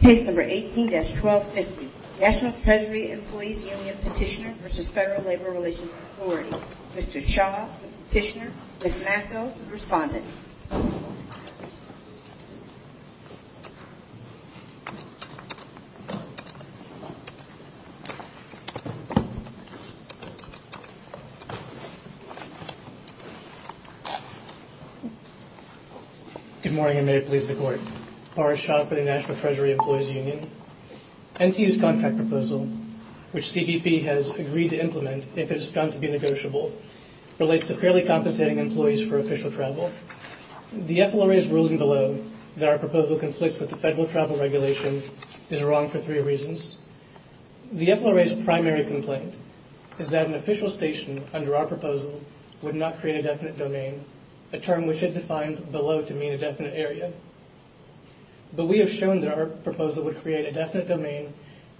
Page number 18-1250 National Treasury Employees Union Petitioner v. Federal Labor Relations Authority Mr. Cha, the petitioner, Ms. Macko, the respondent Good morning, and may it please the Court. Boris Cha for the National Treasury Employees Union NTU's contract proposal, which CBP has agreed to implement if it is found to be negotiable, relates to fairly compensating employees for official travel. Mr. Cha, the FLRA's ruling below that our proposal conflicts with the Federal Travel Regulation is wrong for three reasons. The FLRA's primary complaint is that an official station under our proposal would not create a definite domain, a term which it defined below to mean a definite area. But we have shown that our proposal would create a definite domain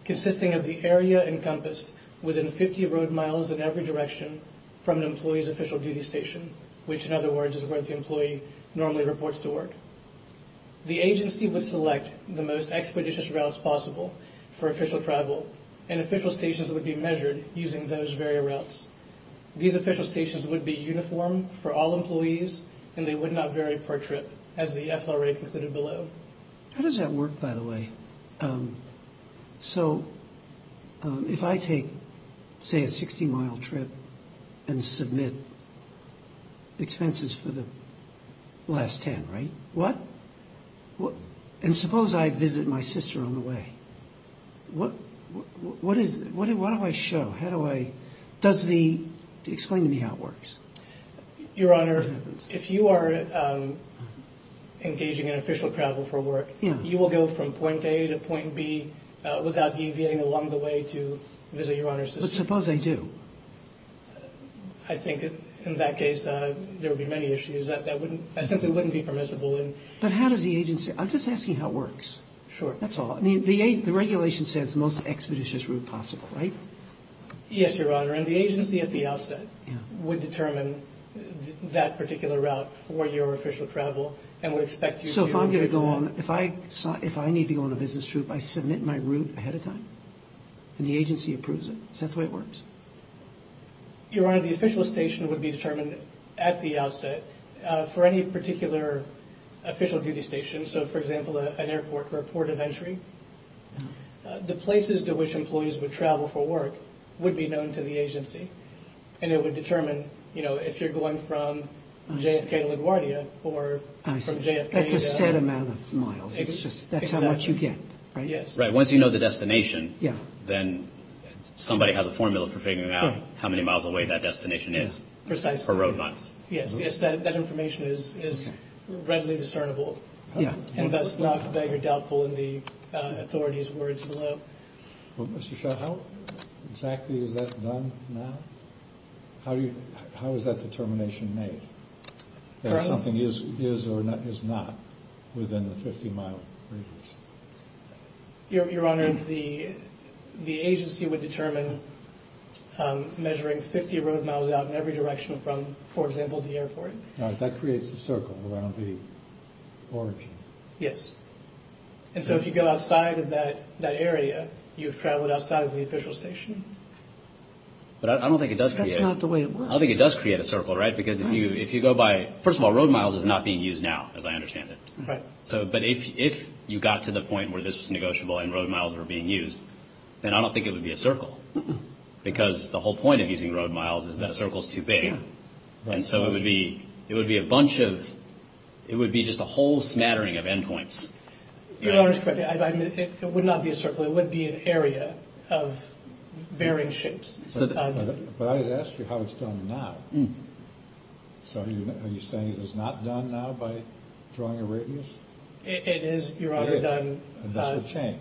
consisting of the area encompassed within 50 road miles in every direction from an employee's official duty station, which, in other words, is where the employee normally reports to work. The agency would select the most expeditious routes possible for official travel, and official stations would be measured using those very routes. These official stations would be uniform for all employees, and they would not vary per trip, as the FLRA concluded below. How does that work, by the way? So if I take, say, a 60-mile trip and submit expenses for the last 10, right? What – and suppose I visit my sister on the way. What is – what do I show? How do I – does the – explain to me how it works. Your Honor, if you are engaging in official travel for work, you will go from point A to point B without deviating along the way to visit your sister. But suppose I do? I think in that case there would be many issues. That simply wouldn't be permissible. But how does the agency – I'm just asking how it works. Sure. That's all. I mean, the regulation says the most expeditious route possible, right? Yes, Your Honor, and the agency at the outset would determine that particular route for your official travel and would expect you to – So if I'm going to go on – if I need to go on a business trip, I submit my route ahead of time, and the agency approves it. Is that the way it works? Your Honor, the official station would be determined at the outset for any particular official duty station. So, for example, an airport or a port of entry. The places to which employees would travel for work would be known to the agency. And it would determine, you know, if you're going from JFK to LaGuardia or from JFK – That's a set amount of miles. It's just – that's how much you get, right? Yes. Right. Once you know the destination, then somebody has a formula for figuring out how many miles away that destination is. Precisely. For road runs. Yes, yes, that information is readily discernible. And that's not that you're doubtful in the authorities' words below. Well, Mr. Shaw, how exactly is that done now? How is that determination made? Currently? If something is or is not within the 50-mile radius. Your Honor, the agency would determine measuring 50 road miles out in every direction from, for example, the airport. All right, that creates a circle around the origin. Yes. And so if you go outside of that area, you've traveled outside of the official station. But I don't think it does create – That's not the way it works. I don't think it does create a circle, right? Because if you go by – first of all, road miles is not being used now, as I understand it. Right. But if you got to the point where this was negotiable and road miles were being used, then I don't think it would be a circle. Because the whole point of using road miles is that a circle is too big. And so it would be a bunch of – it would be just a whole smattering of endpoints. Your Honor, it would not be a circle. It would be an area of varying shapes. But I had asked you how it's done now. So are you saying it is not done now by drawing a radius? It is, Your Honor, done – And this would change?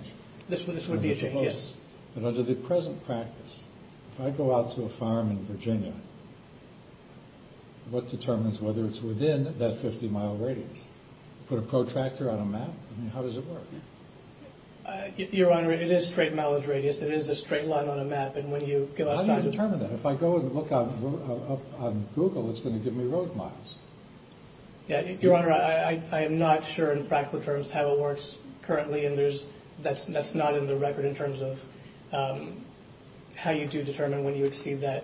This would be a change, yes. But under the present practice, if I go out to a farm in Virginia, what determines whether it's within that 50-mile radius? Put a protractor on a map? I mean, how does it work? Your Honor, it is straight mileage radius. It is a straight line on a map. And when you give us – How do you determine that? If I go and look on Google, it's going to give me road miles. Your Honor, I am not sure in practical terms how it works currently. And there's – that's not in the record in terms of how you do determine when you exceed that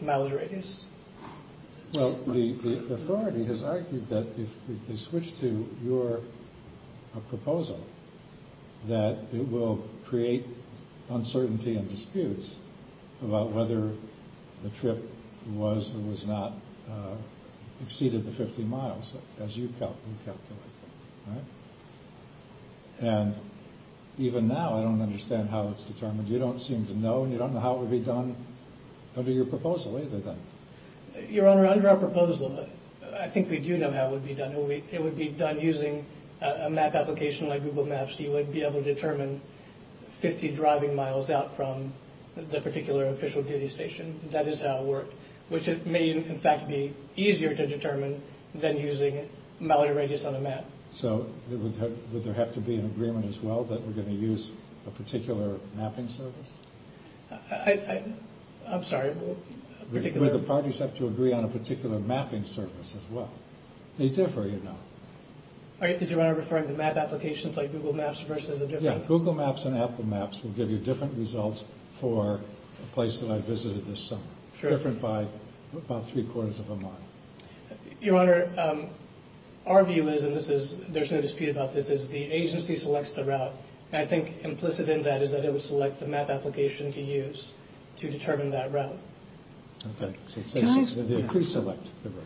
mileage radius. Well, the authority has argued that if they switch to your proposal, that it will create uncertainty and disputes about whether the trip was or was not exceeded the 50 miles as you calculate. And even now, I don't understand how it's determined. You don't seem to know, and you don't know how it would be done under your proposal either, then. Your Honor, under our proposal, I think we do know how it would be done. It would be done using a map application like Google Maps. You would be able to determine 50 driving miles out from the particular official duty station. That is how it would work, which may, in fact, be easier to determine than using mileage radius on a map. So would there have to be an agreement as well that we're going to use a particular mapping service? I'm sorry. Would the parties have to agree on a particular mapping service as well? They differ, you know. Is Your Honor referring to map applications like Google Maps versus a different – Yeah, Google Maps and Apple Maps will give you different results for a place that I visited this summer, different by about three-quarters of a mile. Your Honor, our view is, and there's no dispute about this, is the agency selects the route. I think implicit in that is that it would select the map application to use to determine that route. Okay. They pre-select the route.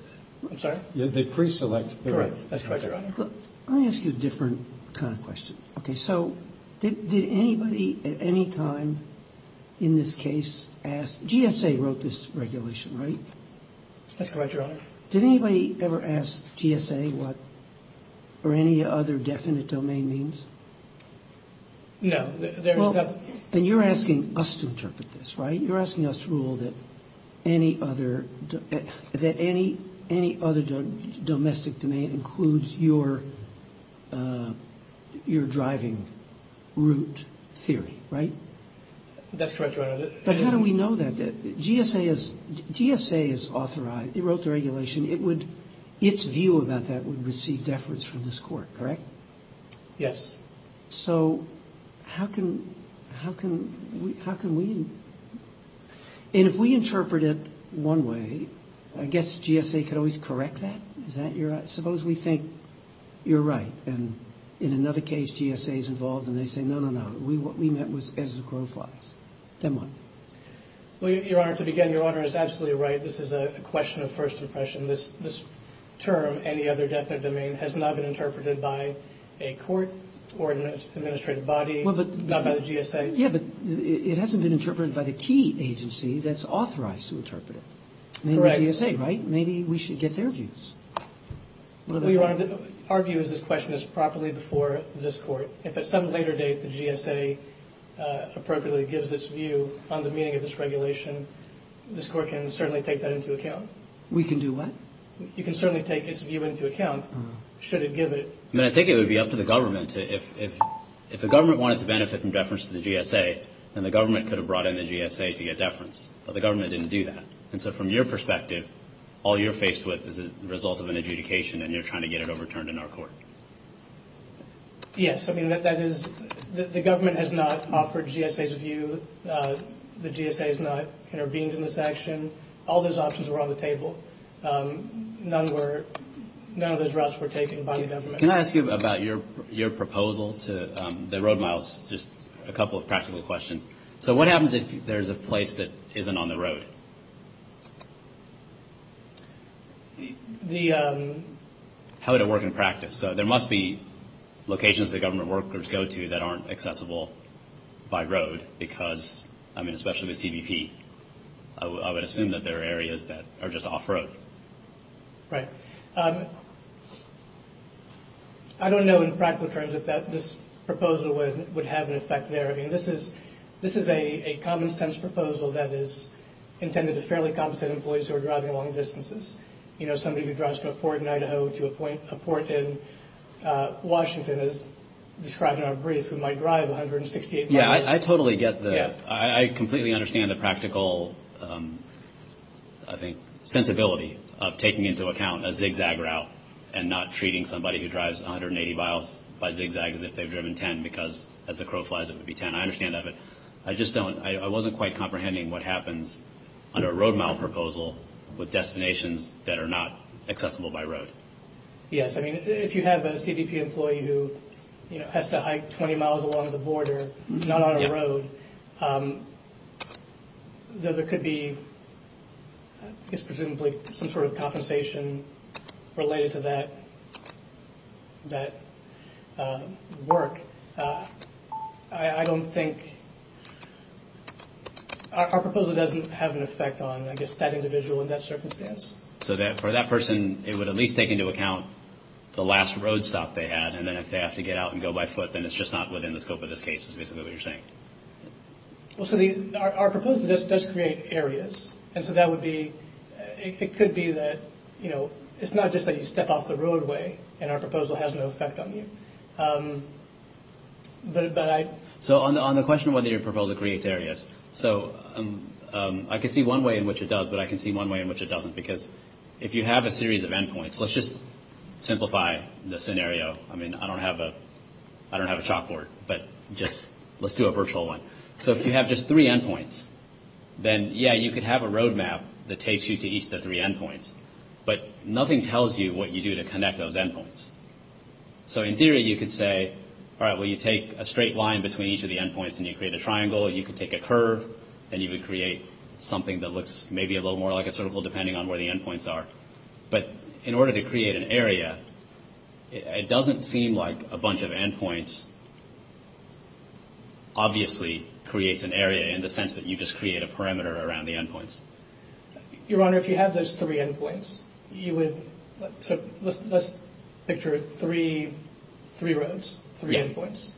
I'm sorry? They pre-select the route. Correct. That's correct, Your Honor. Let me ask you a different kind of question. Okay. So did anybody at any time in this case ask – GSA wrote this regulation, right? That's correct, Your Honor. Did anybody ever ask GSA what – or any other definite domain means? No. Well, then you're asking us to interpret this, right? You're asking us to rule that any other domestic domain includes your driving route theory, right? That's correct, Your Honor. But how do we know that? GSA is authorized. It wrote the regulation. Its view about that would receive deference from this court, correct? Yes. So how can we – and if we interpret it one way, I guess GSA could always correct that? Is that your – suppose we think you're right and in another case GSA is involved and they say, no, no, no. What we meant was as the crow flies. Then what? Well, Your Honor, to begin, Your Honor is absolutely right. This is a question of first impression. This term, any other definite domain, has not been interpreted by a court or an administrative body, not by the GSA. Yeah, but it hasn't been interpreted by the key agency that's authorized to interpret it. Correct. Maybe GSA, right? Maybe we should get their views. Well, Your Honor, our view is this question is properly before this court. If at some later date the GSA appropriately gives its view on the meaning of this regulation, this court can certainly take that into account. We can do what? You can certainly take its view into account should it give it. I mean, I think it would be up to the government to – if the government wanted to benefit from deference to the GSA, then the government could have brought in the GSA to get deference. But the government didn't do that. And so from your perspective, all you're faced with is the result of an adjudication and you're trying to get it overturned in our court. Yes. I mean, that is – the government has not offered GSA's view. The GSA has not intervened in this action. All those options were on the table. None were – none of those routes were taken by the government. Can I ask you about your proposal to the road miles? Just a couple of practical questions. So what happens if there's a place that isn't on the road? How would it work in practice? So there must be locations that government workers go to that aren't accessible by road because – I assume that there are areas that are just off-road. Right. I don't know in practical terms if this proposal would have an effect there. I mean, this is a common-sense proposal that is intended to fairly competent employees who are driving long distances. You know, somebody who drives from a port in Idaho to a port in Washington, as described in our brief, who might drive 168 miles. Yeah, I totally get the – I think sensibility of taking into account a zigzag route and not treating somebody who drives 180 miles by zigzag as if they've driven 10 because as the crow flies it would be 10. I understand that, but I just don't – I wasn't quite comprehending what happens under a road mile proposal with destinations that are not accessible by road. Yes, I mean, if you have a CDP employee who, you know, has to hike 20 miles along the border, not on a road, then there could be presumably some sort of compensation related to that work. I don't think – our proposal doesn't have an effect on, I guess, that individual in that circumstance. So for that person, it would at least take into account the last road stop they had, and then if they have to get out and go by foot, then it's just not within the scope of this case is basically what you're saying. Well, so our proposal does create areas, and so that would be – it could be that, you know, it's not just that you step off the roadway and our proposal has no effect on you. But I – So on the question of whether your proposal creates areas, so I can see one way in which it does, but I can see one way in which it doesn't, because if you have a series of endpoints – let's just simplify the scenario. I mean, I don't have a chalkboard, but just let's do a virtual one. So if you have just three endpoints, then, yeah, you could have a road map that takes you to each of the three endpoints, but nothing tells you what you do to connect those endpoints. So in theory, you could say, all right, well, you take a straight line between each of the endpoints and you create a triangle. You could take a curve, and you would create something that looks maybe a little more like a circle depending on where the endpoints are. But in order to create an area, it doesn't seem like a bunch of endpoints obviously creates an area in the sense that you just create a parameter around the endpoints. Your Honor, if you have those three endpoints, you would – so let's picture three roads, three endpoints,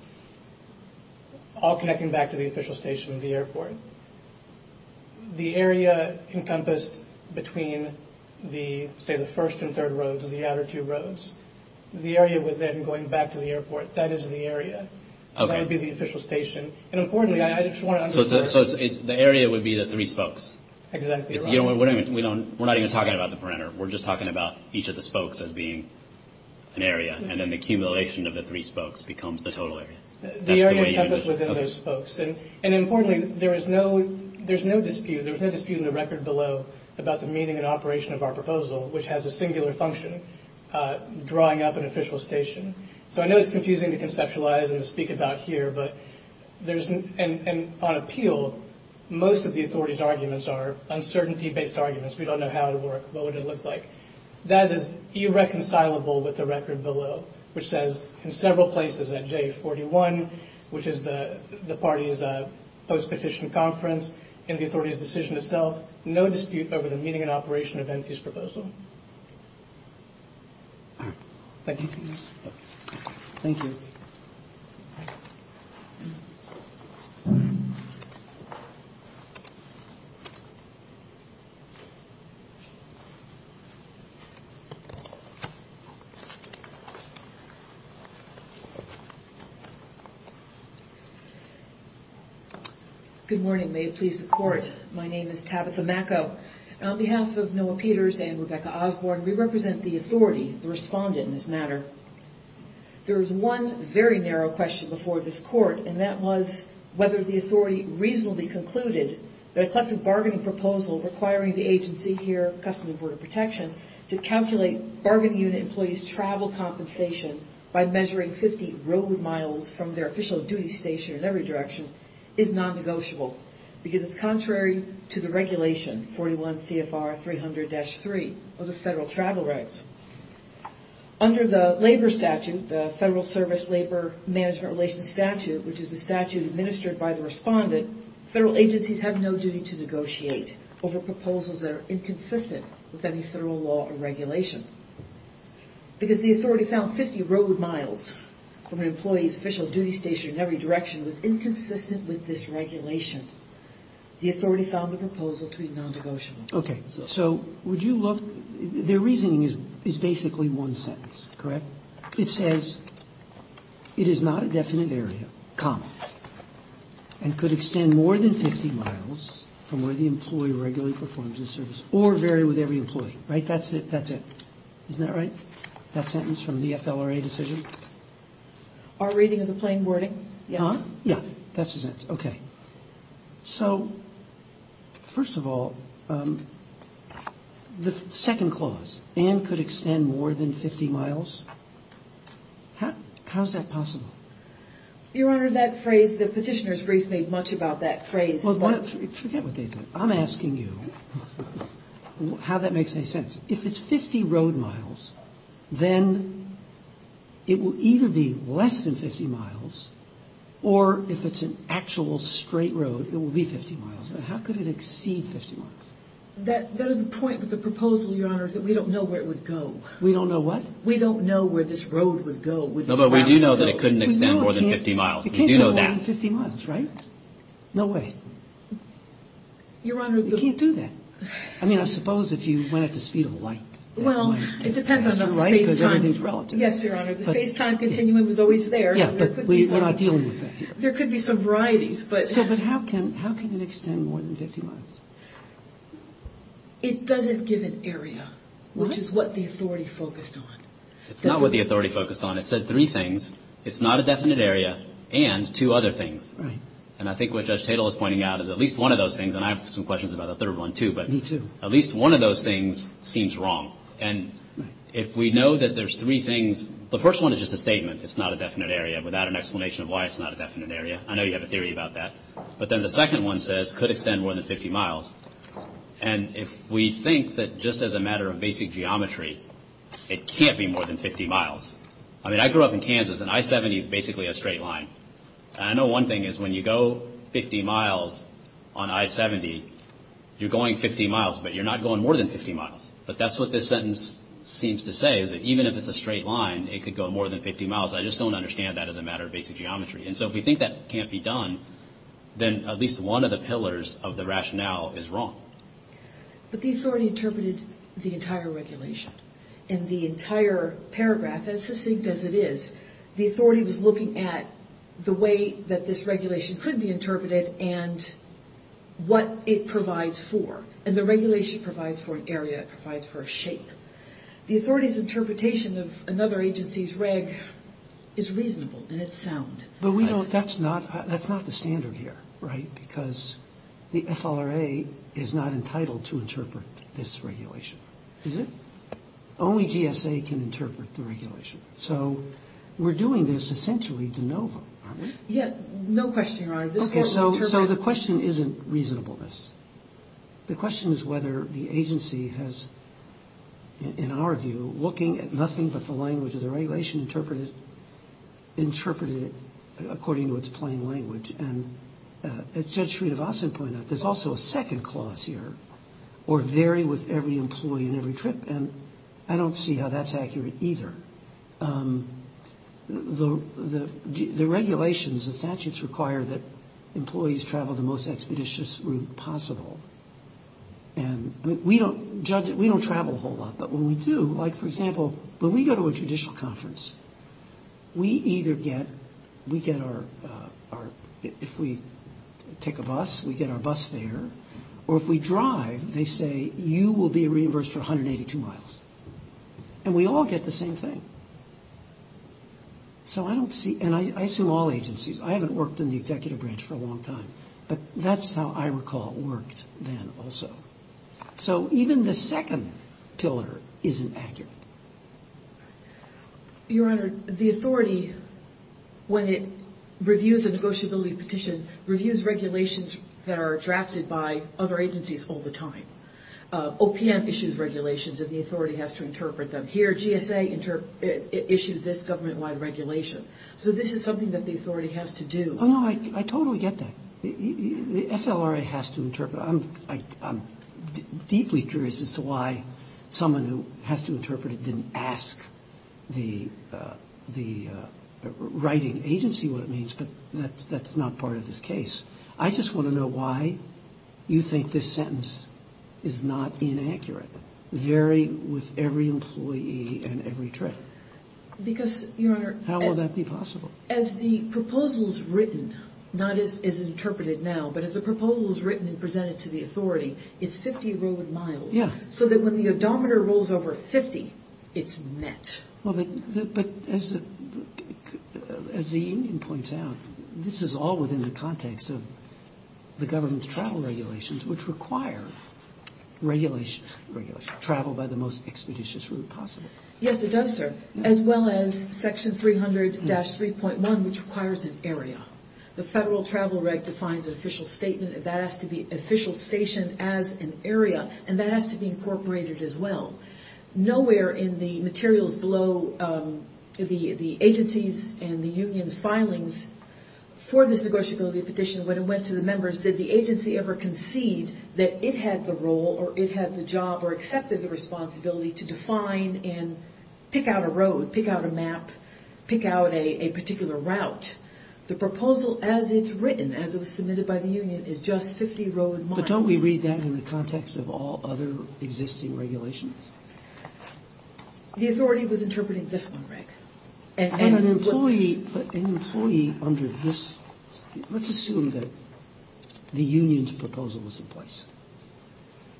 all connecting back to the official station, the airport. The area encompassed between the, say, the first and third roads, the outer two roads. The area within going back to the airport, that is the area. That would be the official station. And importantly, I just want to underscore – So the area would be the three spokes. Exactly, Your Honor. We're not even talking about the parameter. We're just talking about each of the spokes as being an area, and then the accumulation of the three spokes becomes the total area. The area encompassed within those spokes. And importantly, there is no dispute, there's no dispute in the record below about the meaning and operation of our proposal, which has a singular function, drawing up an official station. So I know it's confusing to conceptualize and to speak about here, but there's – and on appeal, most of the authorities' arguments are uncertainty-based arguments. We don't know how it would work, what would it look like. That is irreconcilable with the record below, which says in several places at J41, which is the party's post-petition conference, in the authority's decision itself, no dispute over the meaning and operation of Enzi's proposal. Thank you. Thank you. Thank you. Good morning. May it please the court. My name is Tabitha Macco. On behalf of Noah Peters and Rebecca Osborne, we represent the authority, the respondent in this matter. There was one very narrow question before this court, and that was whether the authority reasonably concluded that a collective bargaining proposal requiring the agency here, Customs and Border Protection, to calculate bargaining unit employees' travel compensation by measuring 50 road miles from their official duty station in every direction is non-negotiable, because it's contrary to the regulation, 41 CFR 300-3, of the federal travel rights. Under the labor statute, the Federal Service Labor Management Relations statute, federal agencies have no duty to negotiate over proposals that are inconsistent with any federal law or regulation, because the authority found 50 road miles from an employee's official duty station in every direction was inconsistent with this regulation. The authority found the proposal to be non-negotiable. Okay. So would you look? Their reasoning is basically one sentence, correct? It says, it is not a definite area, common, and could extend more than 50 miles from where the employee regularly performs his service, or vary with every employee. Right? That's it. That's it. Isn't that right? That sentence from the FLRA decision? Our reading of the plain wording, yes. Yeah. That's it. Okay. So, first of all, the second clause, how is that possible? Your Honor, that phrase, the petitioner's brief made much about that phrase. Well, forget what they said. I'm asking you how that makes any sense. If it's 50 road miles, then it will either be less than 50 miles, or if it's an actual straight road, it will be 50 miles. But how could it exceed 50 miles? That is the point of the proposal, Your Honor, is that we don't know where it would go. We don't know what? We don't know where this road would go. No, but we do know that it couldn't extend more than 50 miles. We do know that. It can't extend more than 50 miles, right? No way. Your Honor, We can't do that. I mean, I suppose if you went at the speed of light. Well, it depends on the space time. Because everything's relative. Yes, Your Honor. The space time continuum is always there. Yeah, but we're not dealing with that here. There could be some varieties, but. So, but how can it extend more than 50 miles? It doesn't give an area, which is what the authority focused on. It's not what the authority focused on. It said three things. It's not a definite area, and two other things. Right. And I think what Judge Tatel is pointing out is at least one of those things, and I have some questions about the third one, too, but. Me, too. At least one of those things seems wrong. And if we know that there's three things. The first one is just a statement. It's not a definite area, without an explanation of why it's not a definite area. I know you have a theory about that. But then the second one says, could extend more than 50 miles. And if we think that just as a matter of basic geometry, it can't be more than 50 miles. I mean, I grew up in Kansas, and I-70 is basically a straight line. I know one thing is when you go 50 miles on I-70, you're going 50 miles, but you're not going more than 50 miles. But that's what this sentence seems to say, is that even if it's a straight line, it could go more than 50 miles. I just don't understand that as a matter of basic geometry. And so if we think that can't be done, then at least one of the pillars of the rationale is wrong. But the authority interpreted the entire regulation. In the entire paragraph, as succinct as it is, the authority was looking at the way that this regulation could be interpreted and what it provides for. And the regulation provides for an area, it provides for a shape. The authority's interpretation of another agency's reg is reasonable, and it's sound. But we don't-that's not the standard here, right? Because the FLRA is not entitled to interpret this regulation. Is it? Only GSA can interpret the regulation. So we're doing this essentially de novo, aren't we? Yeah, no question, Your Honor. Okay, so the question isn't reasonableness. The question is whether the agency has, in our view, looking at nothing but the language of the regulation, interpreted it according to its plain language. And as Judge Sridharvasan pointed out, there's also a second clause here, or vary with every employee and every trip. And I don't see how that's accurate either. The regulations, the statutes, require that employees travel the most expeditious route possible. And we don't travel a whole lot. But when we do, like, for example, when we go to a judicial conference, we either get our-if we take a bus, we get our bus fare. Or if we drive, they say, you will be reimbursed for 182 miles. And we all get the same thing. So I don't see-and I assume all agencies. I haven't worked in the executive branch for a long time. But that's how I recall it worked then also. So even the second pillar isn't accurate. Your Honor, the authority, when it reviews a negotiability petition, reviews regulations that are drafted by other agencies all the time. OPM issues regulations and the authority has to interpret them. Here, GSA issued this government-wide regulation. So this is something that the authority has to do. Oh, no, I totally get that. The FLRA has to interpret. I'm deeply curious as to why someone who has to interpret it didn't ask the writing agency what it means. But that's not part of this case. I just want to know why you think this sentence is not inaccurate, varying with every employee and every trip. Because, Your Honor- How will that be possible? As the proposal is written, not as interpreted now, but as the proposal is written and presented to the authority, it's 50 road miles. Yeah. So that when the odometer rolls over 50, it's met. Well, but as the union points out, this is all within the context of the government's travel regulations, which require travel by the most expeditious route possible. Yes, it does, sir. As well as Section 300-3.1, which requires an area. The Federal Travel Reg defines an official statement, and that has to be official station as an area, and that has to be incorporated as well. Nowhere in the materials below the agency's and the union's filings for this negotiability petition, when it went to the members, did the agency ever concede that it had the role or it had the job or accepted the responsibility to define and pick out a road, pick out a map, pick out a particular route. The proposal as it's written, as it was submitted by the union, is just 50 road miles. But don't we read that in the context of all other existing regulations? The authority was interpreting this one, Rick. An employee under this, let's assume that the union's proposal was in place.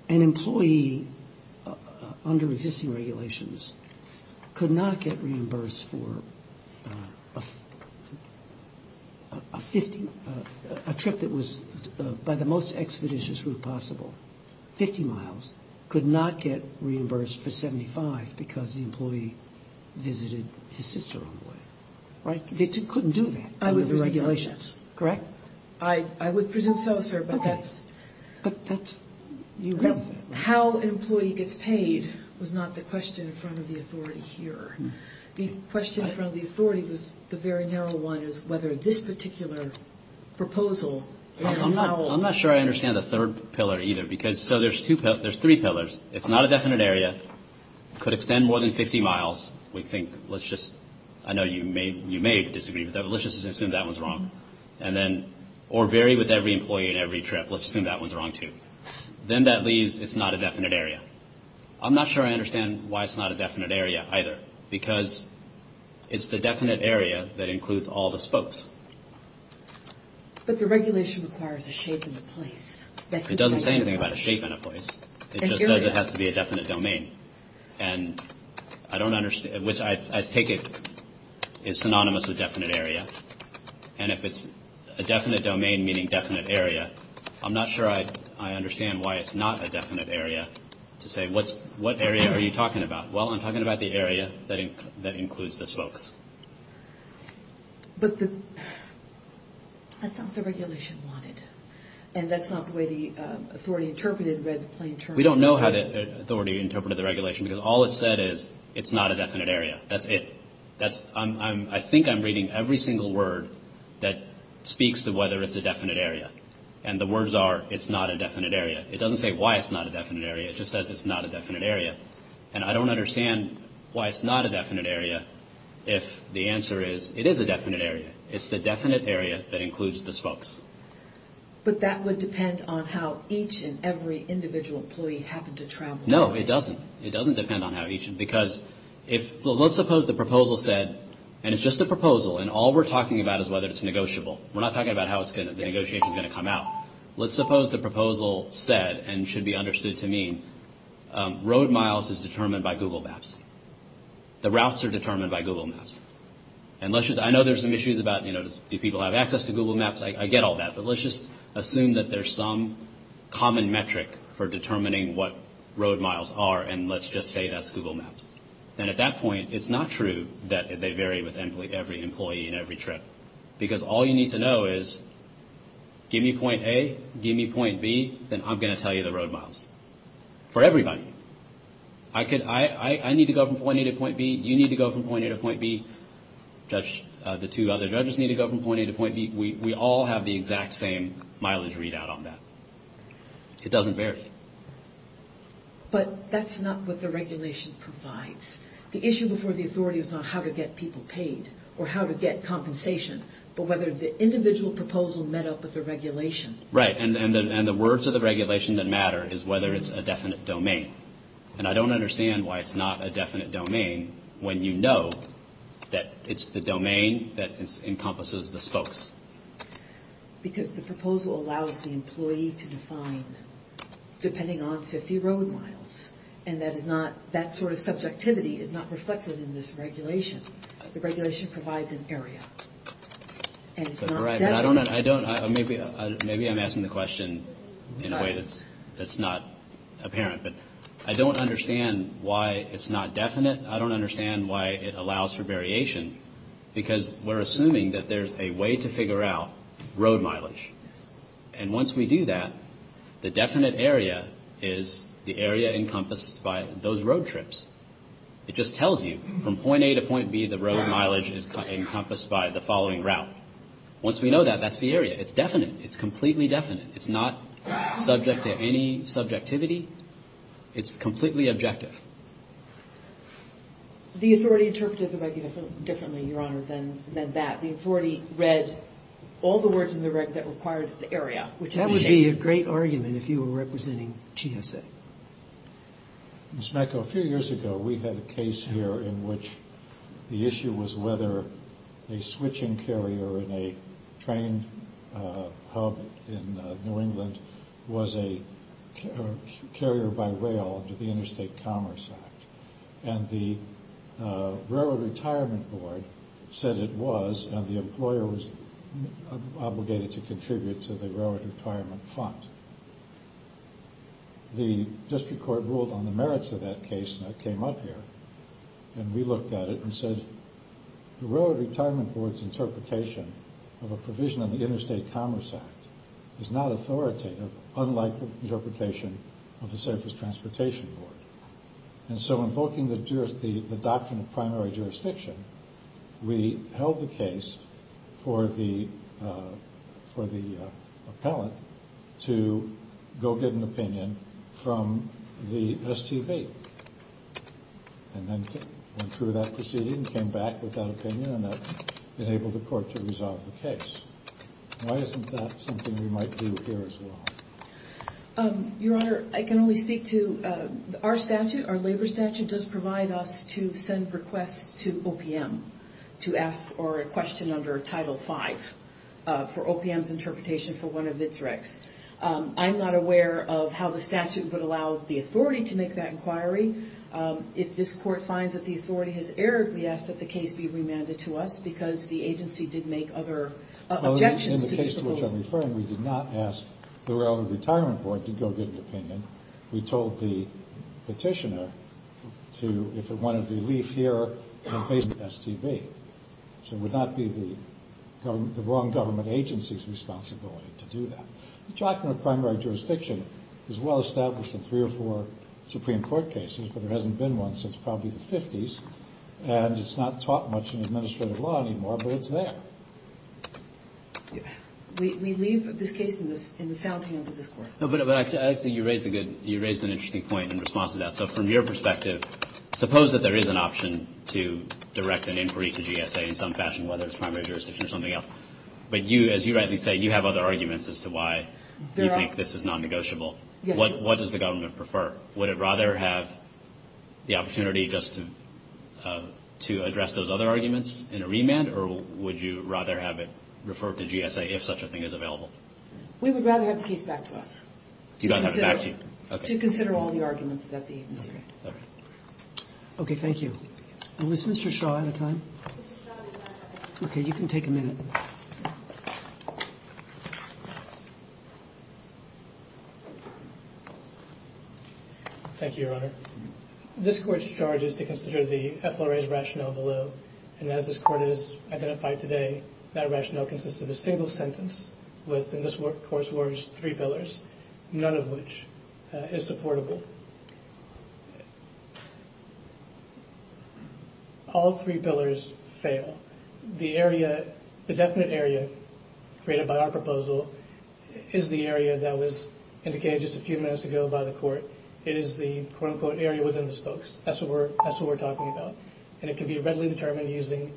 An employee under existing regulations could not get reimbursed for a 50, a trip that was by the most expeditious route possible, 50 miles, could not get reimbursed for 75 because the employee visited his sister on the way. Right? They couldn't do that under the regulations. Correct? I would presume so, sir, but that's how an employee gets paid was not the question in front of the authority here. The question in front of the authority was the very narrow one, which is whether this particular proposal was narrow. I'm not sure I understand the third pillar either. So there's three pillars. It's not a definite area, could extend more than 50 miles, we think. Let's just, I know you may disagree, but let's just assume that one's wrong. Or vary with every employee on every trip. Let's assume that one's wrong too. Then that leaves it's not a definite area. I'm not sure I understand why it's not a definite area either because it's the definite area that includes all the spokes. But the regulation requires a shape and a place. It doesn't say anything about a shape and a place. It just says it has to be a definite domain. And I don't understand, which I take it is synonymous with definite area. And if it's a definite domain, meaning definite area, I'm not sure I understand why it's not a definite area to say what area are you talking about. Well, I'm talking about the area that includes the spokes. But that's not what the regulation wanted. And that's not the way the authority interpreted the plain term. We don't know how the authority interpreted the regulation because all it said is it's not a definite area. That's it. I think I'm reading every single word that speaks to whether it's a definite area. And the words are it's not a definite area. It doesn't say why it's not a definite area. It just says it's not a definite area. And I don't understand why it's not a definite area if the answer is it is a definite area. It's the definite area that includes the spokes. But that would depend on how each and every individual employee happened to travel. No, it doesn't. It doesn't depend on how each. Because let's suppose the proposal said, and it's just a proposal, and all we're talking about is whether it's negotiable. We're not talking about how the negotiation is going to come out. Let's suppose the proposal said and should be understood to mean that road miles is determined by Google Maps. The routes are determined by Google Maps. I know there's some issues about do people have access to Google Maps. I get all that. But let's just assume that there's some common metric for determining what road miles are, and let's just say that's Google Maps. And at that point, it's not true that they vary with every employee and every trip. Because all you need to know is give me point A, give me point B, then I'm going to tell you the road miles for everybody. I need to go from point A to point B. You need to go from point A to point B. The two other judges need to go from point A to point B. We all have the exact same mileage readout on that. It doesn't vary. But that's not what the regulation provides. The issue before the authority is not how to get people paid or how to get compensation, but whether the individual proposal met up with the regulation. Right, and the words of the regulation that matter is whether it's a definite domain. And I don't understand why it's not a definite domain when you know that it's the domain that encompasses the spokes. Because the proposal allows the employee to define depending on 50 road miles, and that sort of subjectivity is not reflected in this regulation. The regulation provides an area. And it's not definite. Maybe I'm asking the question in a way that's not apparent, but I don't understand why it's not definite. I don't understand why it allows for variation because we're assuming that there's a way to figure out road mileage. And once we do that, the definite area is the area encompassed by those road trips. It just tells you from point A to point B, the road mileage is encompassed by the following route. Once we know that, that's the area. It's definite. It's completely definite. It's not subject to any subjectivity. It's completely objective. The authority interpreted the regulation differently, Your Honor, than that. The authority read all the words that required the area, which is the name. That would be a great argument if you were representing GSA. Ms. Macco, a few years ago we had a case here in which the issue was whether a switching carrier in a train hub in New England was a carrier by rail under the Interstate Commerce Act. And the Railroad Retirement Board said it was, and the employer was obligated to contribute to the Railroad Retirement Fund. The district court ruled on the merits of that case that came up here, and we looked at it and said the Railroad Retirement Board's interpretation of a provision in the Interstate Commerce Act is not authoritative, unlike the interpretation of the Surface Transportation Board. And so invoking the doctrine of primary jurisdiction, we held the case for the appellate to go get an opinion from the STV, and then went through that proceeding and came back with that opinion, and that enabled the court to resolve the case. Why isn't that something we might do here as well? Your Honor, I can only speak to our statute, and our labor statute does provide us to send requests to OPM to ask for a question under Title V for OPM's interpretation for one of its regs. I'm not aware of how the statute would allow the authority to make that inquiry. If this court finds that the authority has erred, we ask that the case be remanded to us because the agency did make other objections. In the case to which I'm referring, we did not ask the Railroad Retirement Board to go get an opinion. We told the petitioner to, if it wanted to, leave here and face the STV. So it would not be the wrong government agency's responsibility to do that. The doctrine of primary jurisdiction is well established in three or four Supreme Court cases, but there hasn't been one since probably the 50s, and it's not taught much in administrative law anymore, but it's there. We leave this case in the sound hands of this Court. No, but I think you raised a good, you raised an interesting point in response to that. So from your perspective, suppose that there is an option to direct an inquiry to GSA in some fashion, whether it's primary jurisdiction or something else, but you, as you rightly say, you have other arguments as to why you think this is non-negotiable. Yes, Your Honor. What does the government prefer? Would it rather have the opportunity just to address those other arguments in a remand, We would rather have the case back to us. You don't have it back to you? To consider all the arguments that we consider. Okay, thank you. And was Mr. Shaw out of time? Okay, you can take a minute. Thank you, Your Honor. This Court's charge is to consider the FLRA's rationale below, and as this Court has identified today, that rationale consists of a single sentence within this Court's words, three pillars, none of which is supportable. All three pillars fail. The area, the definite area created by our proposal is the area that was indicated just a few minutes ago by the Court. It is the quote-unquote area within the spokes. That's what we're talking about. And it can be readily determined using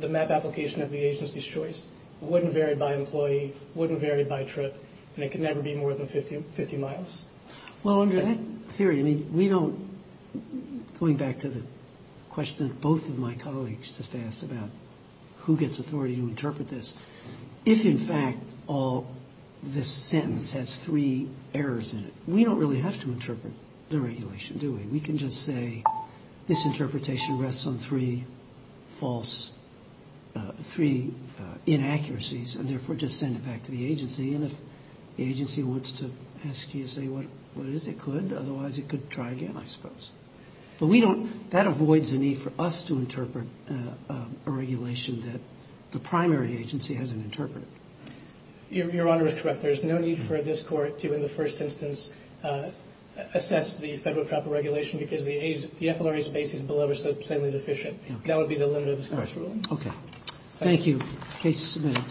the map application of the agency's choice. It wouldn't vary by employee. It wouldn't vary by trip. And it can never be more than 50 miles. Well, under that theory, I mean, we don't, going back to the question that both of my colleagues just asked about who gets authority to interpret this, if, in fact, all this sentence has three errors in it, we don't really have to interpret the regulation, do we? We can just say this interpretation rests on three false, three inaccuracies, and therefore just send it back to the agency. And if the agency wants to ask you to say what it is, it could. Otherwise, it could try again, I suppose. But we don't, that avoids the need for us to interpret a regulation that the primary agency hasn't interpreted. Your Honor is correct. There's no need for this court to, in the first instance, assess the federal proper regulation because the FLRA space is below or so plainly deficient. That would be the limit of this court's ruling. Okay. Thank you. Case is submitted.